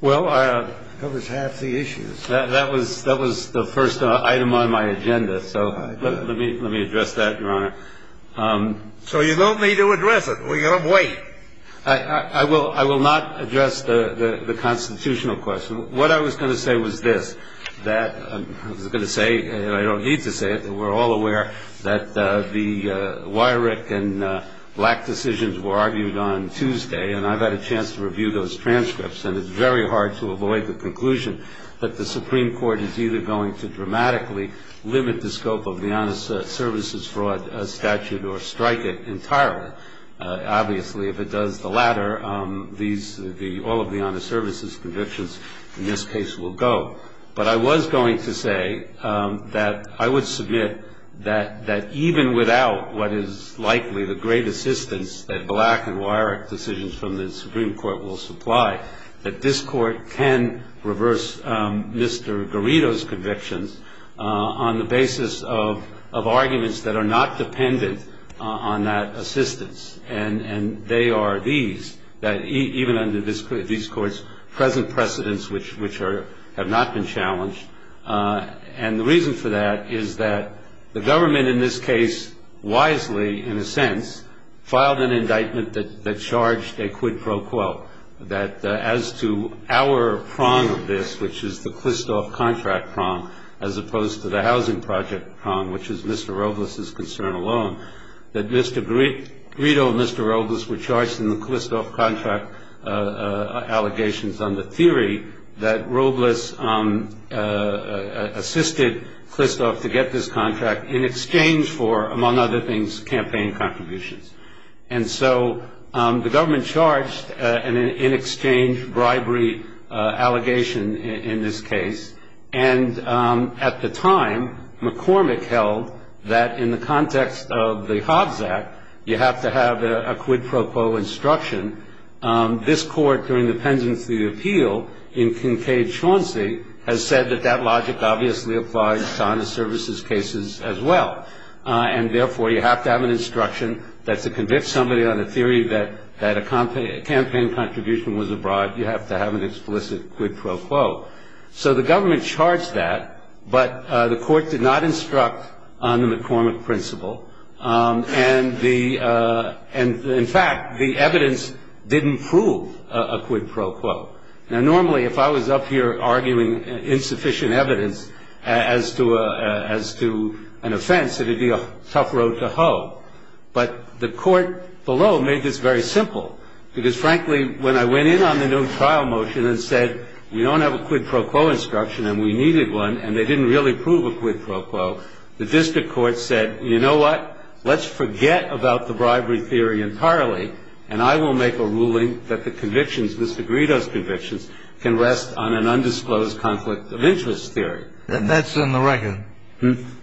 Well, that was the first item on my agenda, so let me address that, your honor. So you don't need to address it. We're going to wait. I will not address the constitutional question. What I was going to say was this, that I was going to say, and I don't need to say it, we're all aware that the Weyrich and Black decisions were argued on Tuesday, and I've had a chance to review those transcripts, and it's very hard to avoid the conclusion that the Supreme Court is either going to dramatically limit the scope of the honest services fraud statute or strike it entirely. Obviously, if it does the latter, all of the honest services convictions in this case will go. But I was going to say that I would submit that even without what is likely the great assistance that Black and Weyrich decisions from the Supreme Court will supply, that this court can reverse Mr. Garrido's convictions on the basis of arguments that are not dependent on that assistance, and they are these, that even under these courts' present precedents, which have not been challenged. And the reason for that is that the government in this case wisely, in a sense, filed an indictment that charged a quid pro quo, that as to our prong of this, which is the Klistoff contract prong, as opposed to the housing project prong, which is Mr. Robles' concern alone, that Mr. Garrido and Mr. Robles were charged in the Klistoff contract allegations under theory that Robles assisted Klistoff to get this contract in exchange for, among other things, campaign contributions. And so the government charged an in-exchange bribery allegation in this case. And at the time, McCormick held that in the context of the Hobbs Act, you have to have a quid pro quo instruction. This court, during the pendency appeal in Kincaid-Chauncey, has said that that logic obviously applies to honest services cases as well, and therefore you have to have an instruction that to convince somebody on the theory that a campaign contribution was a bribe, you have to have an explicit quid pro quo. So the government charged that, but the court did not instruct on the McCormick principle. And, in fact, the evidence didn't prove a quid pro quo. Now, normally, if I was up here arguing insufficient evidence as to an offense, it would be a tough road to hoe. But the court below made this very simple, because, frankly, when I went in on the new trial motion and said we don't have a quid pro quo instruction and we needed one and they didn't really prove a quid pro quo, the district court said, you know what, let's forget about the bribery theory entirely and I will make a ruling that the convictions, Mr. Guido's convictions, can rest on an undisclosed conflict of interest theory. That's in the record.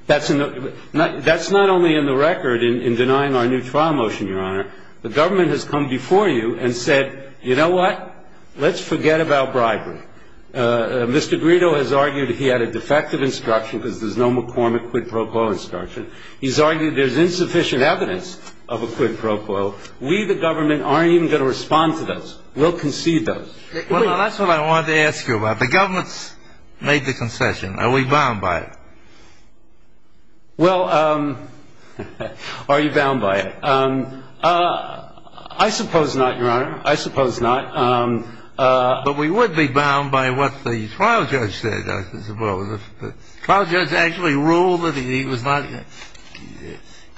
That's not only in the record in denying our new trial motion, Your Honor. The government has come before you and said, you know what, let's forget about bribery. Mr. Guido has argued he had a defective instruction because there's no McCormick quid pro quo instruction. He's argued there's insufficient evidence of a quid pro quo. We, the government, aren't even going to respond to those. We'll concede those. Well, that's what I wanted to ask you about. The government's made the concession. Are we bound by it? Well, are you bound by it? I suppose not, Your Honor. I suppose not. But we would be bound by what the trial judge said, I suppose. The trial judge actually ruled that he was not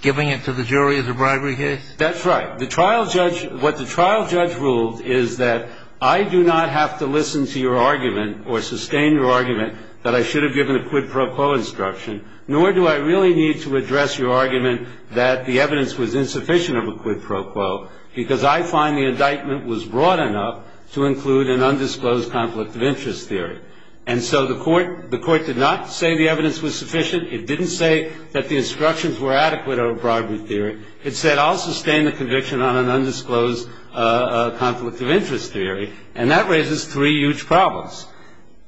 giving it to the jury as a bribery case? That's right. What the trial judge ruled is that I do not have to listen to your argument or sustain your argument that I should have given a quid pro quo instruction, nor do I really need to address your argument that the evidence was insufficient of a quid pro quo, because I find the indictment was broad enough to include an undisclosed conflict of interest theory. And so the court did not say the evidence was sufficient. It didn't say that the instructions were adequate over bribery theory. It said I'll sustain the conviction on an undisclosed conflict of interest theory, and that raises three huge problems.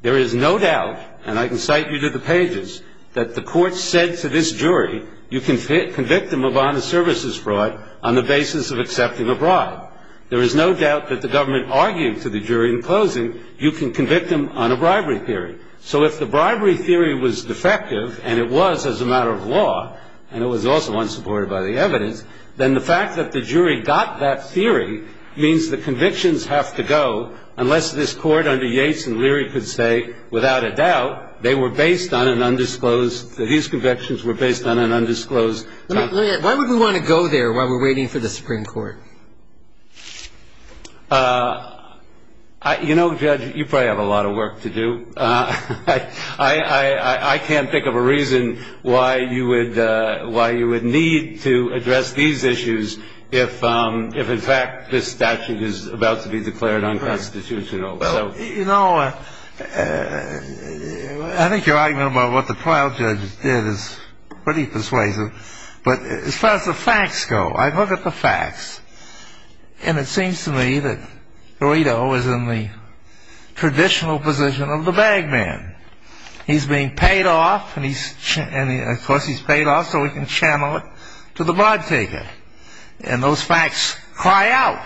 There is no doubt, and I can cite you to the pages, that the court said to this jury, you can convict them of honest services fraud on the basis of accepting a bribe. There is no doubt that the government argued to the jury in closing you can convict them on a bribery theory. So if the bribery theory was defective, and it was as a matter of law, and it was also unsupported by the evidence, then the fact that the jury got that theory means the convictions have to go, unless this Court under Yates and Leary could say without a doubt they were based on an undisclosed, that these convictions were based on an undisclosed. Let me ask, why would we want to go there while we're waiting for the Supreme Court? You know, Judge, you probably have a lot of work to do. I can't think of a reason why you would need to address these issues if in fact this statute is about to be declared unconstitutional. You know, I think your argument about what the trial judge did is pretty persuasive. But as far as the facts go, I look at the facts, and it seems to me that Guido is in the traditional position of the bag man. He's being paid off, and of course he's paid off so he can channel it to the bribe taker. And those facts cry out.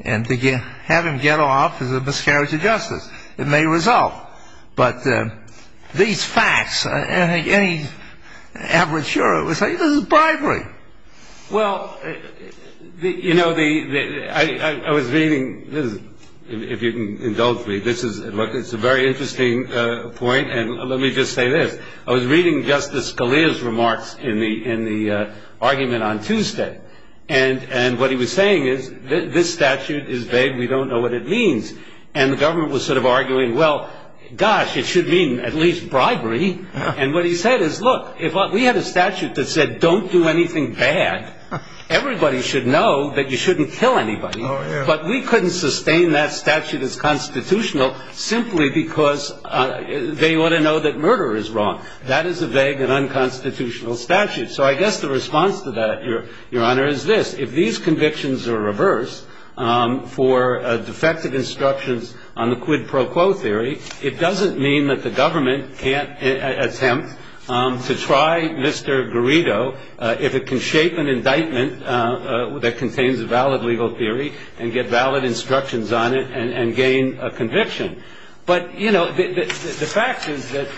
And to have him get off is a miscarriage of justice. It may result. Well, you know, I was reading, if you can indulge me, this is a very interesting point, and let me just say this. I was reading Justice Scalia's remarks in the argument on Tuesday. And what he was saying is, this statute is vague. We don't know what it means. And the government was sort of arguing, well, gosh, it should mean at least bribery. And what he said is, look, if we had a statute that said don't do anything bad, everybody should know that you shouldn't kill anybody. But we couldn't sustain that statute as constitutional simply because they ought to know that murder is wrong. That is a vague and unconstitutional statute. So I guess the response to that, Your Honor, is this. If these convictions are reversed for defective instructions on the quid pro quo theory, it doesn't mean that the government can't attempt to try Mr. Garrido if it can shape an indictment that contains a valid legal theory and get valid instructions on it and gain a conviction. But, you know, the fact is that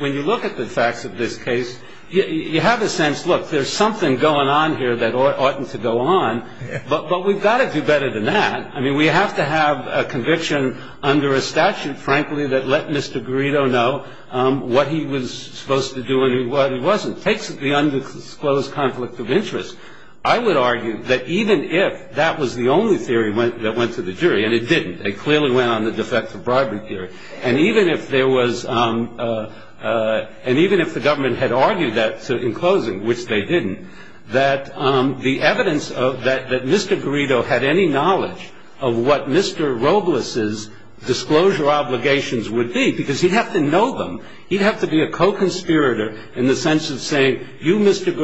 when you look at the facts of this case, you have a sense, look, there's something going on here that oughtn't to go on. But we've got to do better than that. I mean, we have to have a conviction under a statute, frankly, that let Mr. Garrido know what he was supposed to do and what he wasn't. It takes the undisclosed conflict of interest. I would argue that even if that was the only theory that went to the jury, and it didn't. It clearly went on the defective bribery theory. And even if there was and even if the government had argued that in closing, which they didn't, that the evidence that Mr. Garrido had any knowledge of what Mr. Robles' disclosure obligations would be, because he'd have to know them. He'd have to be a co-conspirator in the sense of saying, you, Mr.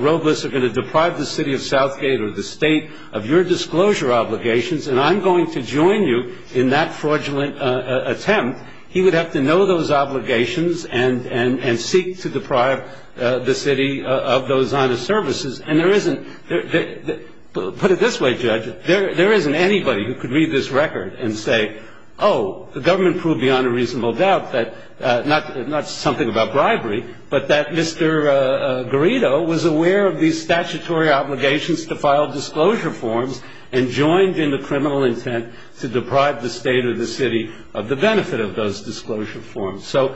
Robles, are going to deprive the city of Southgate or the state of your disclosure obligations, and I'm going to join you in that fraudulent attempt. He would have to know those obligations and seek to deprive the city of those honor services. And there isn't, put it this way, Judge, there isn't anybody who could read this record and say, oh, the government proved beyond a reasonable doubt that, not something about bribery, but that Mr. Garrido was aware of these statutory obligations to file disclosure forms and joined in the criminal intent to deprive the state or the city of the benefit of those disclosure forms. So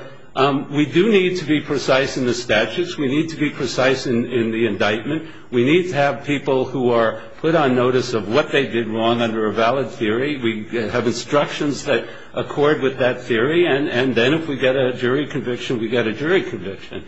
we do need to be precise in the statutes. We need to be precise in the indictment. We need to have people who are put on notice of what they did wrong under a valid theory. We have instructions that accord with that theory. And then if we get a jury conviction, we get a jury conviction.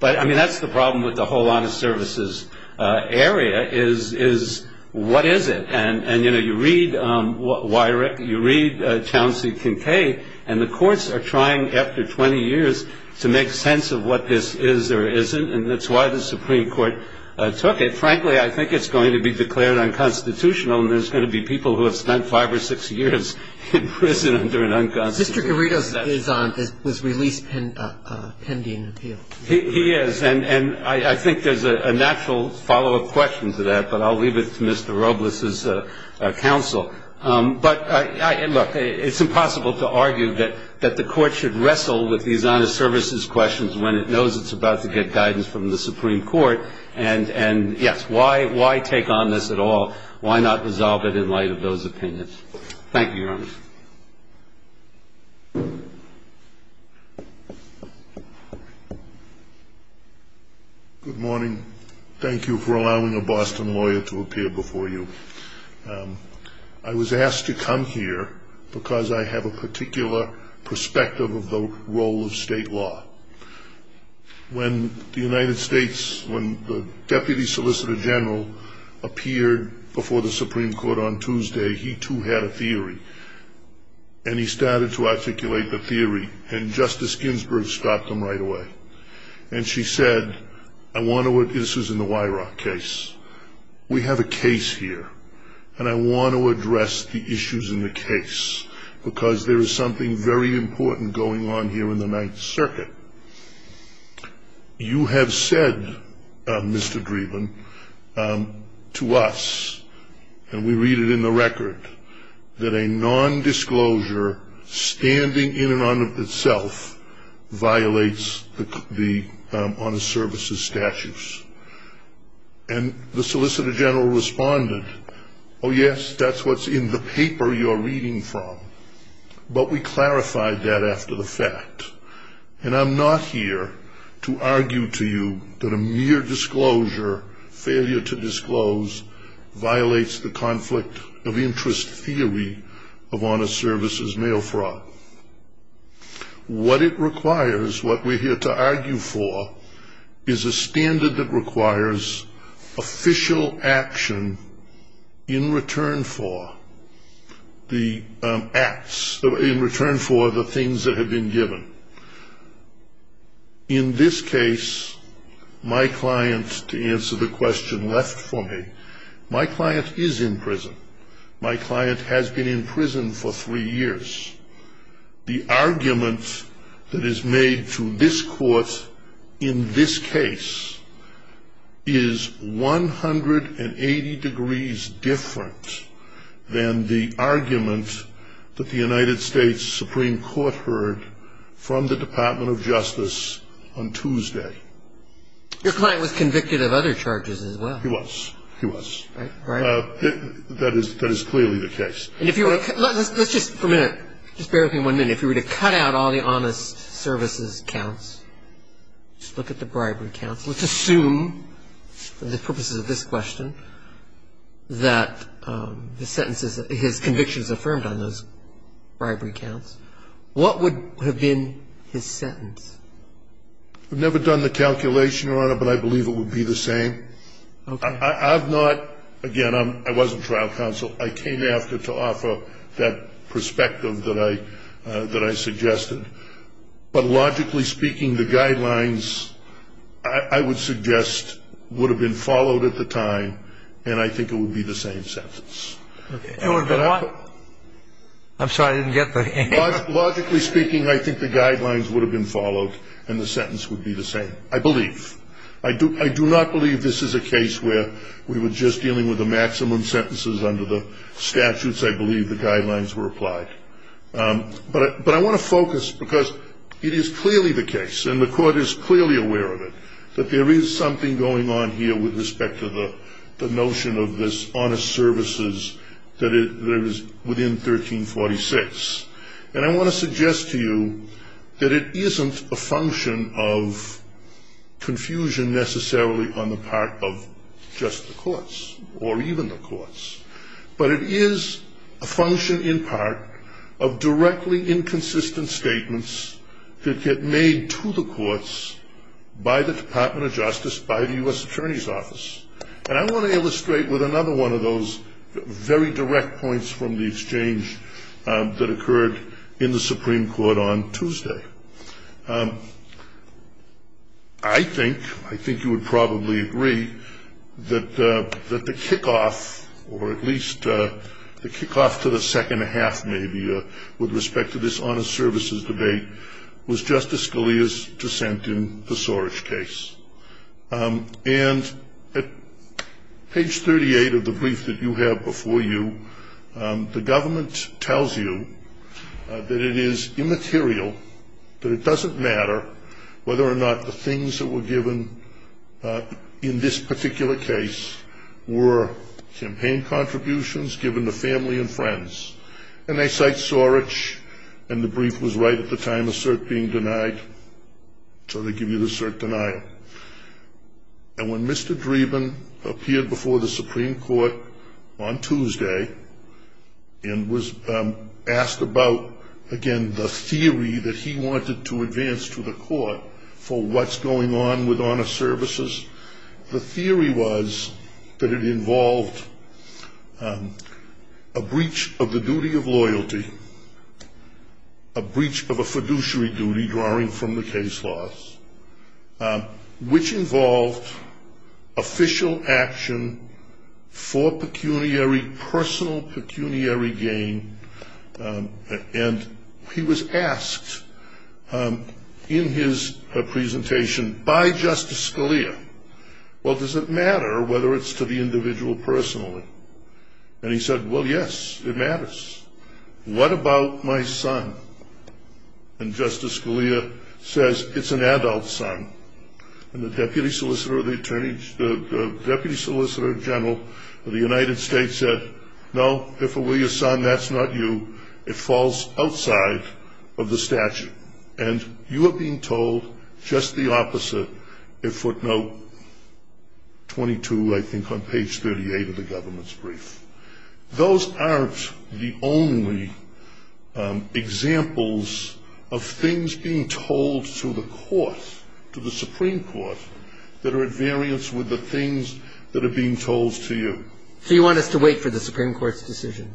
But, I mean, that's the problem with the whole honor services area is what is it? And, you know, you read Weirich, you read Chauncey Kincaid, and the courts are trying after 20 years to make sense of what this is or isn't, and that's why the Supreme Court took it. Frankly, I think it's going to be declared unconstitutional, and there's going to be people who have spent five or six years in prison under an unconstitutional statute. Mr. Garrido was released pending appeal. He is. And I think there's a natural follow-up question to that, but I'll leave it to Mr. Robles' counsel. But, look, it's impossible to argue that the Court should wrestle with these honor services questions when it knows it's about to get guidance from the Supreme Court. And, yes, why take on this at all? Thank you, Your Honor. Good morning. Thank you for allowing a Boston lawyer to appear before you. I was asked to come here because I have a particular perspective of the role of state law. When the United States, when the Deputy Solicitor General appeared before the Supreme Court on Tuesday, he, too, had a theory, and he started to articulate the theory, and Justice Ginsburg stopped him right away. And she said, I want to address this in the Weirach case. We have a case here, and I want to address the issues in the case because there is something very important going on here in the Ninth Circuit. You have said, Mr. Dreeben, to us, and we read it in the record, that a nondisclosure standing in and of itself violates the honor services statutes. And the Solicitor General responded, oh, yes, that's what's in the paper you're reading from. But we clarified that after the fact. And I'm not here to argue to you that a mere disclosure, failure to disclose, violates the conflict of interest theory of honor services mail fraud. What it requires, what we're here to argue for, is a standard that requires official action in return for the acts, in return for the things that have been given. In this case, my client, to answer the question left for me, my client is in prison. My client has been in prison for three years. The argument that is made to this court in this case is 180 degrees different than the argument that the United States Supreme Court heard from the Department of Justice on Tuesday. Your client was convicted of other charges as well. He was. He was. Right? That is clearly the case. Let's just for a minute, just bear with me one minute. If you were to cut out all the honest services counts, just look at the bribery counts, let's assume for the purposes of this question that the sentences, his conviction is affirmed on those bribery counts. What would have been his sentence? I've never done the calculation, Your Honor, but I believe it would be the same. I've not, again, I wasn't trial counsel. I came after to offer that perspective that I suggested, but logically speaking, the guidelines I would suggest would have been followed at the time, and I think it would be the same sentence. It would have been what? I'm sorry, I didn't get the answer. Logically speaking, I think the guidelines would have been followed, and the sentence would be the same, I believe. I do not believe this is a case where we were just dealing with the maximum sentences under the statutes. I believe the guidelines were applied. But I want to focus, because it is clearly the case, and the court is clearly aware of it, that there is something going on here with respect to the notion of this honest services that is within 1346, and I want to suggest to you that it isn't a function of confusion necessarily on the part of just the courts, or even the courts, but it is a function in part of directly inconsistent statements that get made to the courts by the Department of Justice, by the U.S. Attorney's Office, and I want to illustrate with another one of those very direct points from the exchange that occurred in the Supreme Court on Tuesday. I think you would probably agree that the kickoff, or at least the kickoff to the second half maybe, with respect to this honest services debate, was Justice Scalia's dissent in the Sorich case, and at page 38 of the brief that you have before you, the government tells you that it is immaterial, that it doesn't matter whether or not the things that were given in this particular case were campaign contributions given to family and friends, and they cite Sorich, and the brief was right at the time of cert being denied, so they give you the cert denial. And when Mr. Dreeben appeared before the Supreme Court on Tuesday and was asked about, again, the theory that he wanted to advance to the court for what's going on with honest services, the theory was that it involved a breach of the duty of loyalty, a breach of a fiduciary duty drawing from the case laws, which involved official action for pecuniary, personal pecuniary gain, and he was asked in his presentation by Justice Scalia, well, does it matter whether it's to the individual personally? And he said, well, yes, it matters. What about my son? And Justice Scalia says, it's an adult son, and the deputy solicitor general of the United States said, no, if it were your son, that's not you. It falls outside of the statute. And you are being told just the opposite in footnote 22, I think, on page 38 of the government's brief. Those aren't the only examples of things being told to the court, to the Supreme Court, that are at variance with the things that are being told to you. So you want us to wait for the Supreme Court's decision?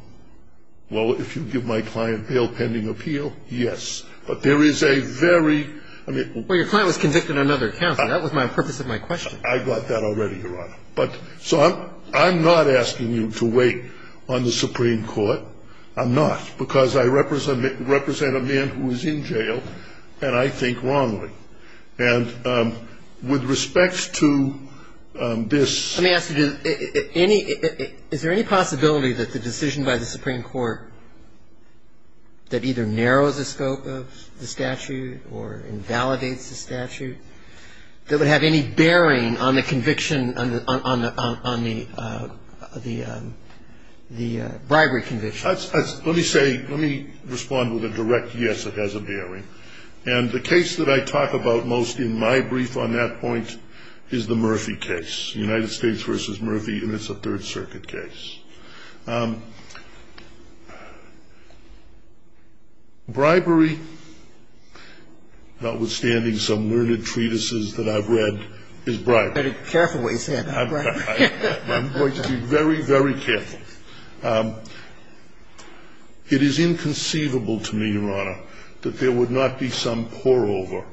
Well, if you give my client bail pending appeal, yes. But there is a very ‑‑ Well, your client was convicted on another account. That was the purpose of my question. I got that already, Your Honor. So I'm not asking you to wait on the Supreme Court. I'm not, because I represent a man who is in jail, and I think wrongly. And with respect to this ‑‑ Let me ask you, is there any possibility that the decision by the Supreme Court that either narrows the scope of the statute or invalidates the statute, that would have any bearing on the conviction, on the bribery conviction? Let me say, let me respond with a direct yes, it has a bearing. And the case that I talk about most in my brief on that point is the Murphy case, United States v. Murphy, and it's a Third Circuit case. Bribery, notwithstanding some learned treatises that I've read, is bribery. Very careful what you say about bribery. I'm going to be very, very careful. It is inconceivable to me, Your Honor, that there would not be some pour over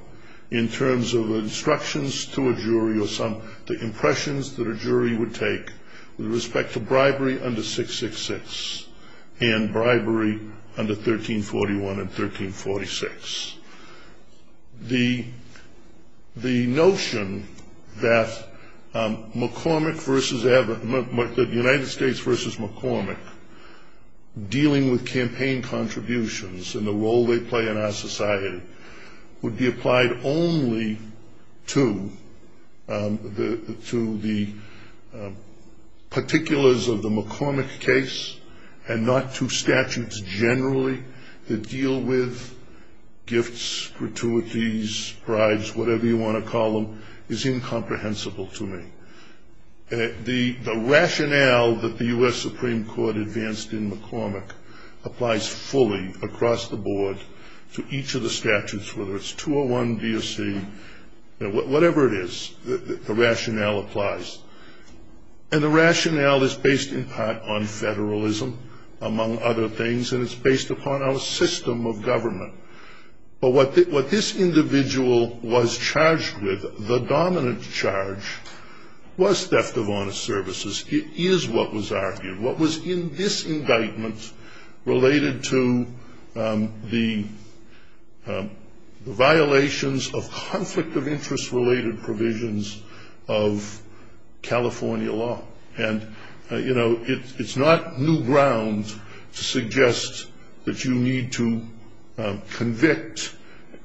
in terms of instructions to a jury or some ‑‑ the impressions that a jury would take with respect to bribery under 666 and bribery under 1341 and 1346. The notion that McCormick v. Everett, the United States v. McCormick, dealing with campaign contributions and the role they play in our society would be applied only to the particulars of the McCormick case and not to statutes generally that deal with gifts, gratuities, prides, whatever you want to call them, is incomprehensible to me. The rationale that the U.S. Supreme Court advanced in McCormick applies fully across the board to each of the statutes, whether it's 201B or C, whatever it is, the rationale applies. And the rationale is based in part on federalism, among other things, and it's based upon our system of government. But what this individual was charged with, the dominant charge, was theft of honest services. It is what was argued. What was in this indictment related to the violations of conflict of interest-related provisions of California law. And, you know, it's not new ground to suggest that you need to convict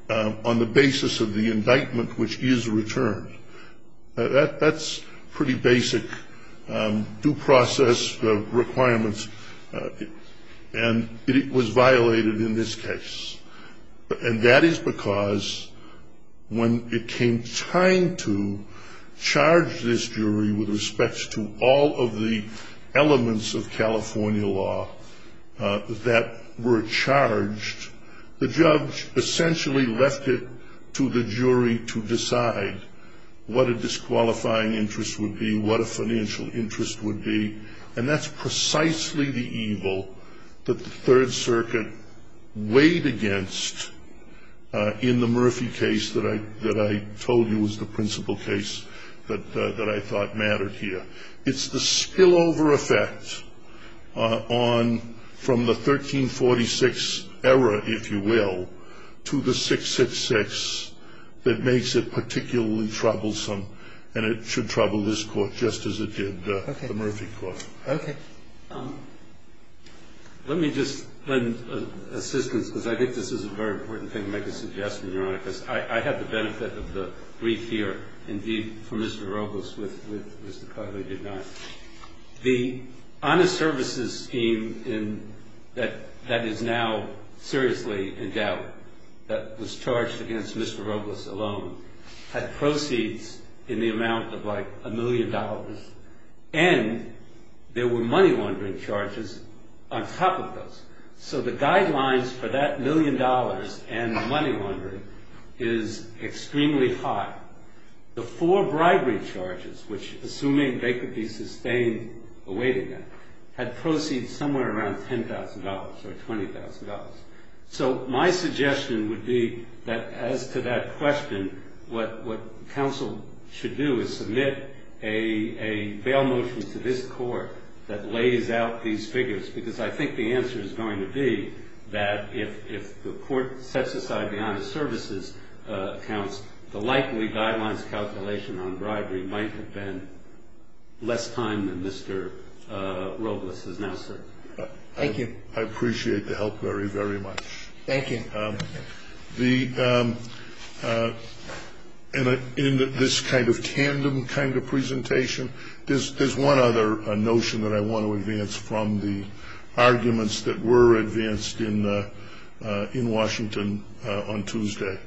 on the basis of the indictment which is returned. That's pretty basic due process requirements, and it was violated in this case. And that is because when it came time to charge this jury with respect to all of the elements of California law that were charged, the judge essentially left it to the jury to decide what a disqualifying interest would be, what a financial interest would be, and that's precisely the evil that the Third Circuit weighed against in the Murphy case that I told you was the principal case that I thought mattered here. It's the spillover effect on the 1346 error, if you will, to the 666 that makes it particularly troublesome, and it should trouble this Court just as it did the Murphy Court. Okay. Let me just lend assistance, because I think this is a very important thing to make a suggestion, Your Honor, because I had the benefit of the brief here, indeed, from Mr. Robles with Mr. Cogley did not. The honest services scheme that is now seriously in doubt, that was charged against Mr. Robles alone, had proceeds in the amount of like a million dollars, and there were money-laundering charges on top of those. So the guidelines for that million dollars and the money-laundering is extremely high. The four bribery charges, which assuming they could be sustained awaiting that, had proceeds somewhere around $10,000 or $20,000. So my suggestion would be that as to that question, what counsel should do is submit a bail motion to this Court that lays out these figures, because I think the answer is going to be that if the Court sets aside the honest services accounts, the likely guidelines calculation on bribery might have been less time than Mr. Robles has now served. Thank you. I appreciate the help very, very much. Thank you. The end of this kind of tandem kind of presentation, there's one other notion that I want to advance from the arguments that were advanced in Washington on Tuesday.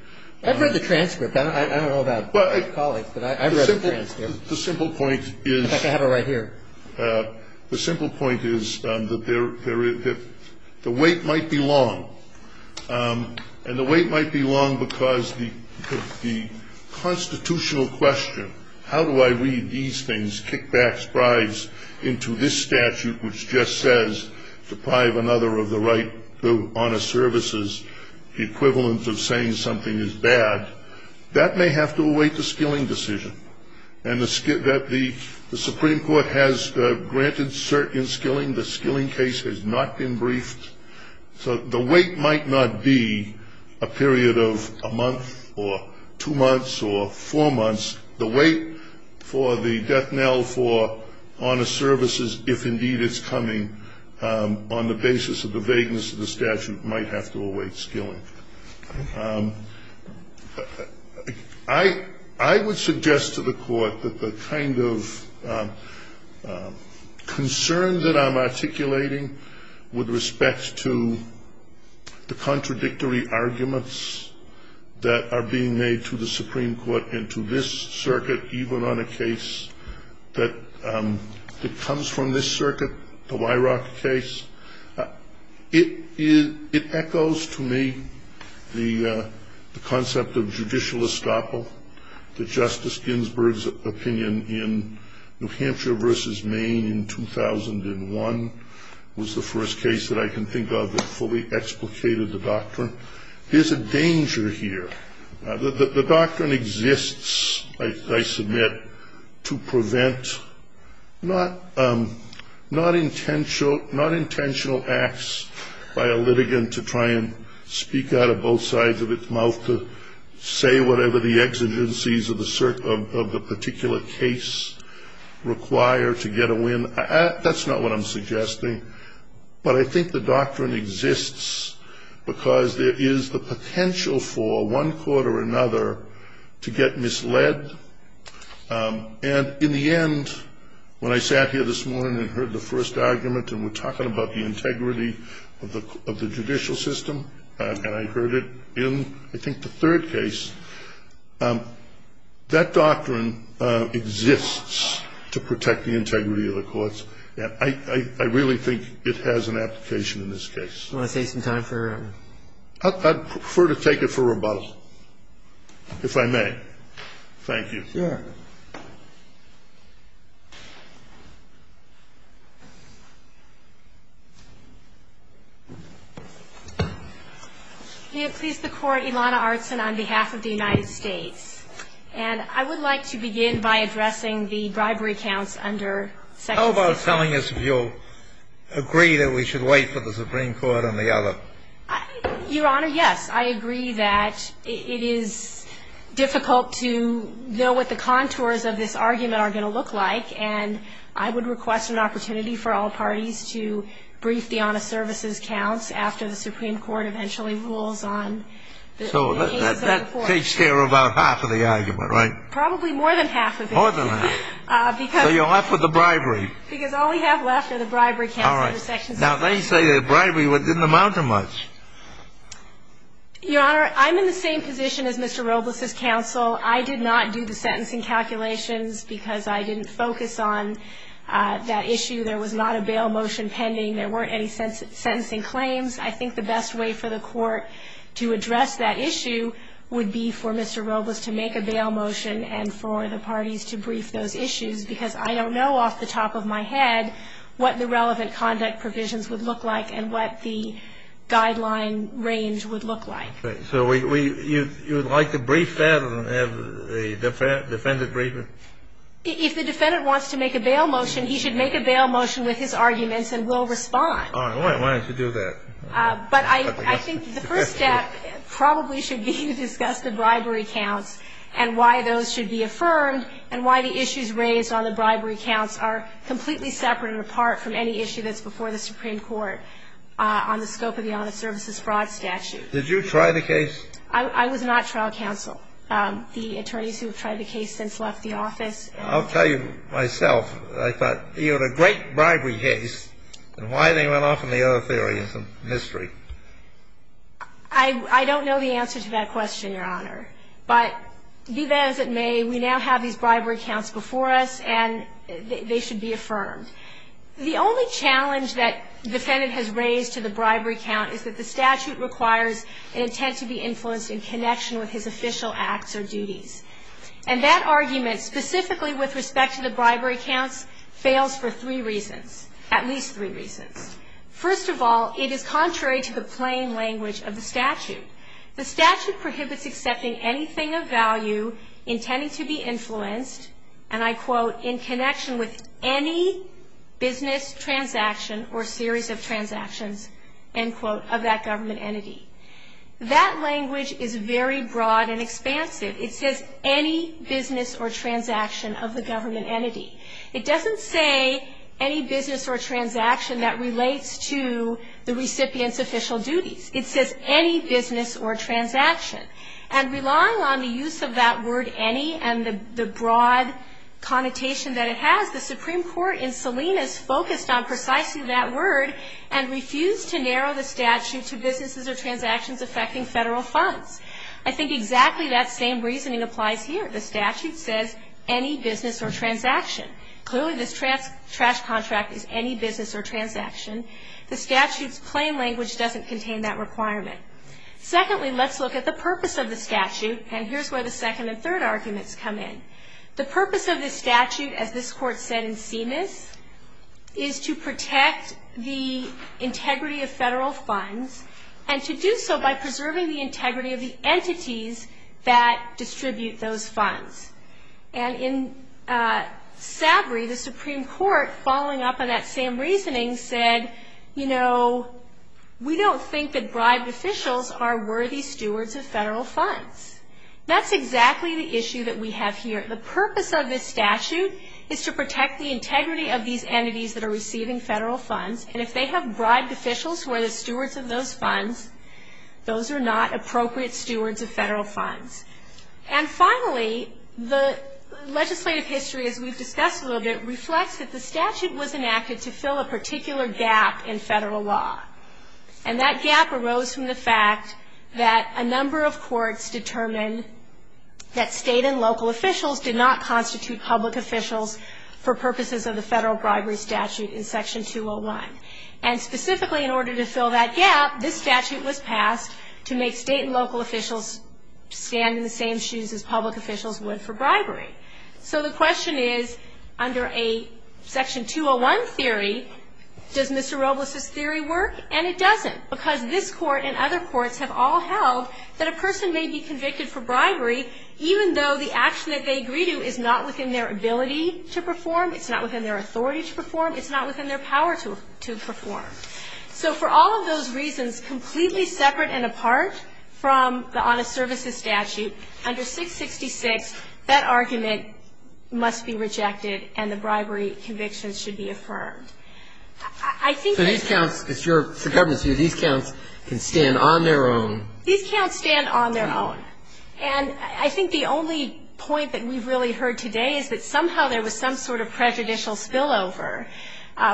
I've read the transcript. I don't know about your colleagues, but I've read the transcript. The simple point is the weight might be long. And the weight might be long because the constitutional question, how do I read these things, kickbacks, bribes, into this statute, which just says deprive another of the right to honest services, the equivalent of saying something is bad, that may have to await the skilling decision. And the Supreme Court has granted cert in skilling. The skilling case has not been briefed. So the weight might not be a period of a month or two months or four months. The weight for the death knell for honest services, if indeed it's coming on the basis of the vagueness of the statute, might have to await skilling. I would suggest to the court that the kind of concern that I'm articulating with respect to the contradictory arguments that are being made to the Supreme Court and to this circuit, even on a case that comes from this circuit, the Weirach case, it echoes to me the concept of judicial estoppel, that Justice Ginsburg's opinion in New Hampshire versus Maine in 2001 was the first case that I can think of that fully explicated the doctrine. There's a danger here. The doctrine exists, I submit, to prevent not intentional acts by a litigant to try and speak out of both sides of its mouth to say whatever the exigencies of the particular case require to get a win. That's not what I'm suggesting. But I think the doctrine exists because there is the potential for one court or another to get misled. And in the end, when I sat here this morning and heard the first argument, and we're talking about the integrity of the judicial system, and I heard it in, I think, the third case, that doctrine exists to protect the integrity of the courts. And I really think it has an application in this case. Do you want to take some time for? I'd prefer to take it for rebuttal, if I may. Thank you. Sure. May it please the Court, Ilana Artson on behalf of the United States. And I would like to begin by addressing the bribery counts under section 16. How about telling us if you'll agree that we should wait for the Supreme Court on the other? Your Honor, yes. I agree that it is difficult to know what the contours of this argument are going to look like. And I would request an opportunity for all parties to brief the honest services counts So that takes care of about half of the argument, right? Probably more than half of it. More than half. So you're left with the bribery. Because all we have left are the bribery counts under section 16. All right. Now, they say that bribery didn't amount to much. Your Honor, I'm in the same position as Mr. Robles' counsel. I did not do the sentencing calculations because I didn't focus on that issue. There was not a bail motion pending. There weren't any sentencing claims. I think the best way for the court to address that issue would be for Mr. Robles to make a bail motion and for the parties to brief those issues. Because I don't know off the top of my head what the relevant conduct provisions would look like and what the guideline range would look like. So you would like to brief that and have the defendant brief it? If the defendant wants to make a bail motion, he should make a bail motion with his arguments and will respond. All right. Why don't you do that? But I think the first step probably should be to discuss the bribery counts and why those should be affirmed and why the issues raised on the bribery counts are completely separate and apart from any issue that's before the Supreme Court on the scope of the honest services fraud statute. Did you try the case? I was not trial counsel. The attorneys who have tried the case since left the office. I'll tell you myself. I thought you had a great bribery case, and why they went off on the other theory is a mystery. I don't know the answer to that question, Your Honor. But be that as it may, we now have these bribery counts before us, and they should be affirmed. The only challenge that the defendant has raised to the bribery count is that the statute requires an intent to be influenced in connection with his official acts or duties. And that argument, specifically with respect to the bribery counts, fails for three reasons, at least three reasons. First of all, it is contrary to the plain language of the statute. The statute prohibits accepting anything of value intending to be influenced, and I quote, in connection with any business transaction or series of transactions, end quote, of that government entity. That language is very broad and expansive. It says any business or transaction of the government entity. It doesn't say any business or transaction that relates to the recipient's official duties. It says any business or transaction. And relying on the use of that word any and the broad connotation that it has, the Supreme Court in Salinas focused on precisely that word and refused to narrow the statute to businesses or transactions affecting Federal funds. I think exactly that same reasoning applies here. The statute says any business or transaction. Clearly this trash contract is any business or transaction. The statute's plain language doesn't contain that requirement. Secondly, let's look at the purpose of the statute, and here's where the second and third arguments come in. The purpose of the statute, as this Court said in CMS, is to protect the integrity of Federal funds and to do so by preserving the integrity of the entities that distribute those funds. And in Sabry, the Supreme Court, following up on that same reasoning, said, you know, we don't think that bribed officials are worthy stewards of Federal funds. That's exactly the issue that we have here. The purpose of this statute is to protect the integrity of these entities that are receiving Federal funds, and if they have bribed officials who are the stewards of those funds, those are not appropriate stewards of Federal funds. And finally, the legislative history, as we've discussed a little bit, reflects that the statute was enacted to fill a particular gap in Federal law, and that gap arose from the fact that a number of courts determined that State and local officials did not constitute public officials for purposes of the Federal bribery statute in Section 201. And specifically, in order to fill that gap, this statute was passed to make State and local officials stand in the same shoes as public officials would for bribery. So the question is, under a Section 201 theory, does Mr. Robles' theory work? And it doesn't, because this Court and other courts have all held that a person may be convicted for bribery even though the action that they agree to is not within their ability to perform, it's not within their authority to perform, it's not within their power to perform. So for all of those reasons, completely separate and apart from the Honest Services statute, under 666, that argument must be rejected, and the bribery conviction should be affirmed. I think that these counts can stand on their own. These counts stand on their own. And I think the only point that we've really heard today is that somehow there was some sort of prejudicial spillover,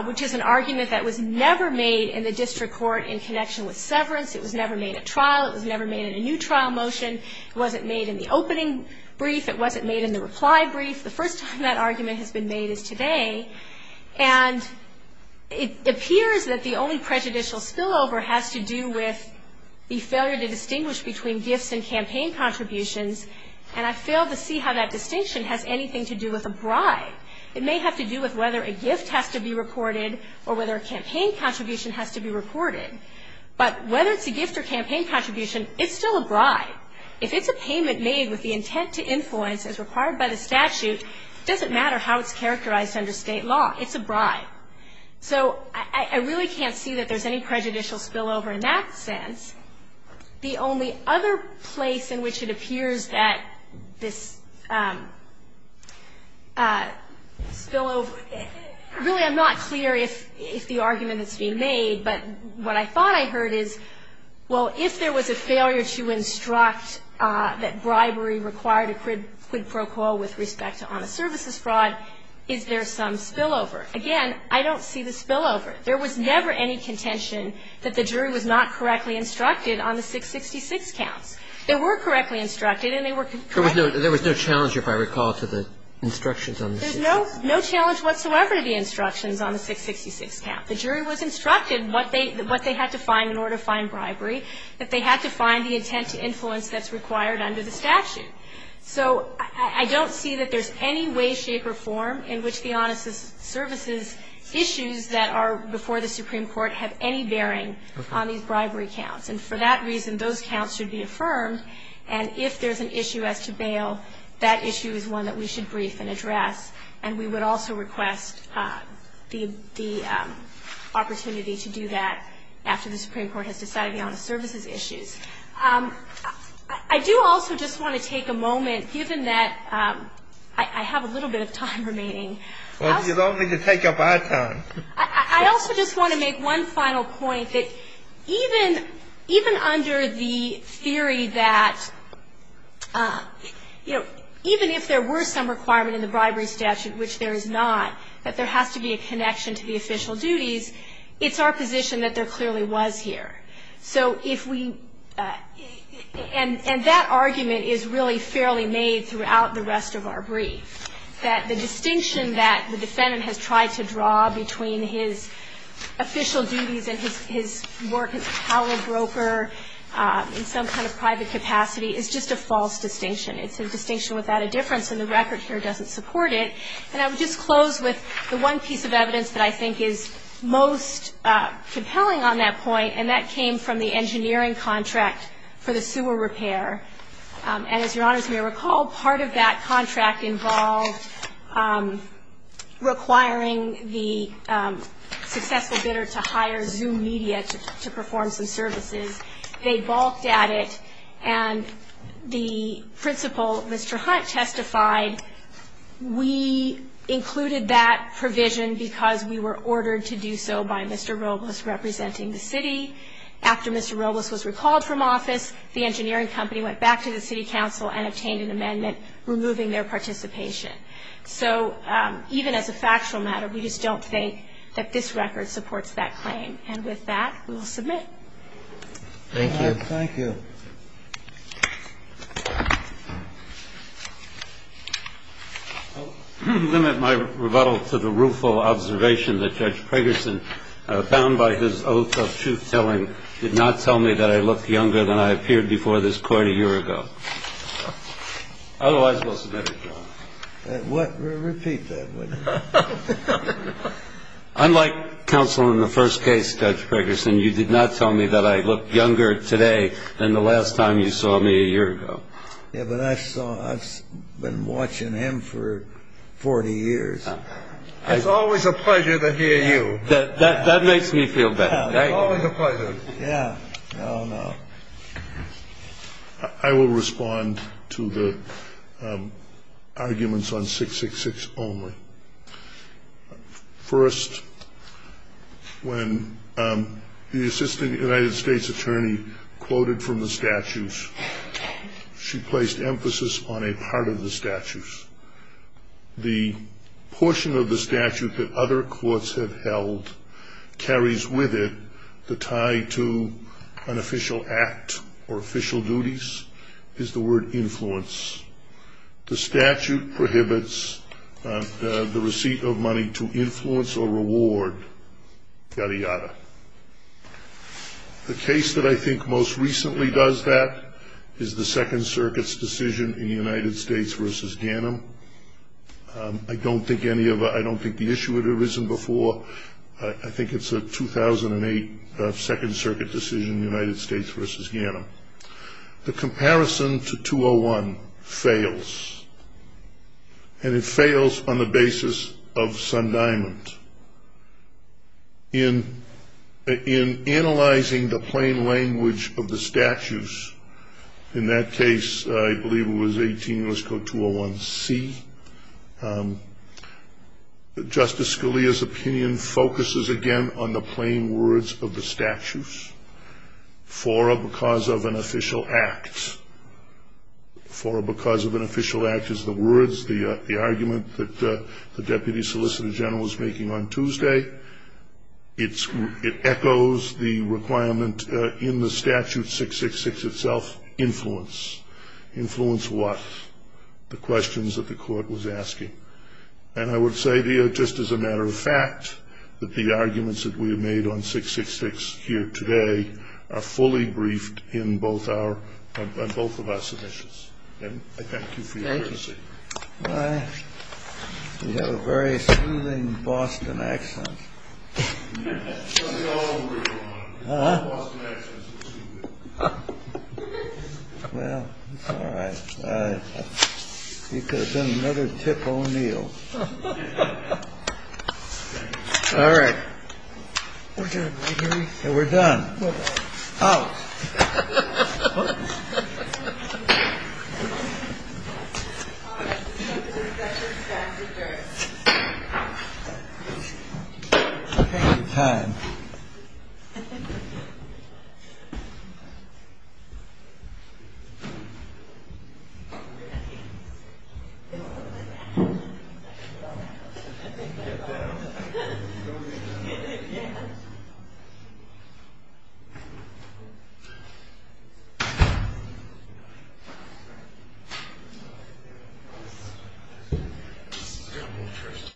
which is an argument that was never made in the district court in connection with severance. It was never made at trial. It was never made in a new trial motion. It wasn't made in the opening brief. It wasn't made in the reply brief. The first time that argument has been made is today. And it appears that the only prejudicial spillover has to do with the failure to distinguish between gifts and campaign contributions, and I fail to see how that distinction has anything to do with a bribe. It may have to do with whether a gift has to be reported or whether a campaign contribution has to be reported. But whether it's a gift or campaign contribution, it's still a bribe. If it's a payment made with the intent to influence as required by the statute, it doesn't matter how it's characterized under State law. It's a bribe. So I really can't see that there's any prejudicial spillover in that sense. The only other place in which it appears that this spillover, really I'm not clear if the argument has been made, but what I thought I heard is, well, if there was a failure to instruct that bribery required a quid pro quo with respect to honest services fraud, is there some spillover? Again, I don't see the spillover. There was never any contention that the jury was not correctly instructed on the 666 counts. They were correctly instructed and they were correct. There was no challenge, if I recall, to the instructions on the 666? There's no challenge whatsoever to the instructions on the 666 count. The jury was instructed what they had to find in order to find bribery, that they had to find the intent to influence that's required under the statute. So I don't see that there's any way, shape, or form in which the honest services issues that are before the Supreme Court have any bearing on these bribery counts. And for that reason, those counts should be affirmed. And if there's an issue as to bail, that issue is one that we should brief and address. And we would also request the opportunity to do that after the Supreme Court has decided on the honest services issues. I do also just want to take a moment, given that I have a little bit of time remaining. Well, you don't need to take up our time. I also just want to make one final point, that even under the theory that, you know, even if there were some requirement in the bribery statute, which there is not, that there has to be a connection to the official duties, it's our position that there clearly was here. So if we – and that argument is really fairly made throughout the rest of our brief, that the distinction that the defendant has tried to draw between his official duties and his work as a power broker in some kind of private capacity is just a false distinction. It's a distinction without a difference, and the record here doesn't support it. And I would just close with the one piece of evidence that I think is most compelling on that point, and that came from the engineering contract for the sewer repair. And as Your Honors may recall, part of that contract involved requiring the successful bidder to hire Zoom media to perform some services. They balked at it, and the principal, Mr. Hunt, testified, we included that provision because we were ordered to do so by Mr. Robles representing the city. After Mr. Robles was recalled from office, the engineering company went back to the city council and obtained an amendment removing their participation. So even as a factual matter, we just don't think that this record supports that claim. And with that, we will submit. Thank you. Thank you. I'll limit my rebuttal to the rueful observation that Judge Pragerson, bound by his oath of truth-telling, did not tell me that I look younger than I appeared before this Court a year ago. Otherwise, we'll submit it, Your Honor. Repeat that. Unlike counsel in the first case, Judge Pragerson, you did not tell me that I look younger today than the last time you saw me a year ago. Yeah, but I've been watching him for 40 years. It's always a pleasure to hear you. That makes me feel better. Always a pleasure. Yeah. Oh, no. I will respond to the arguments on 666 only. First, when the assistant United States attorney quoted from the statutes, she placed emphasis on a part of the statutes. The portion of the statute that other courts have held carries with it the tie to an official act or official duties is the word influence. The statute prohibits the receipt of money to influence or reward Gadiada. The case that I think most recently does that is the Second Circuit's decision in United States v. Ganim. I don't think the issue had arisen before. I think it's a 2008 Second Circuit decision, United States v. Ganim. The comparison to 201 fails. And it fails on the basis of Sundiamond. In analyzing the plain language of the statutes, in that case, I believe it was 18 U.S. Code 201C, Justice Scalia's opinion focuses again on the plain words of the statute. And it's not because of an official act. For because of an official act is the words, the argument that the deputy solicitor general was making on Tuesday. It echoes the requirement in the statute 666 itself, influence. Influence what? The questions that the court was asking. And I would say, just as a matter of fact, that the arguments that we have made on 666 here today are fully briefed in both our, on both of our submissions. And I thank you for your courtesy. Thank you. You have a very soothing Boston accent. Well, it's all right. Because then another tip O'Neill. All right. We're done. We're done. Out. Thank you. Thank you.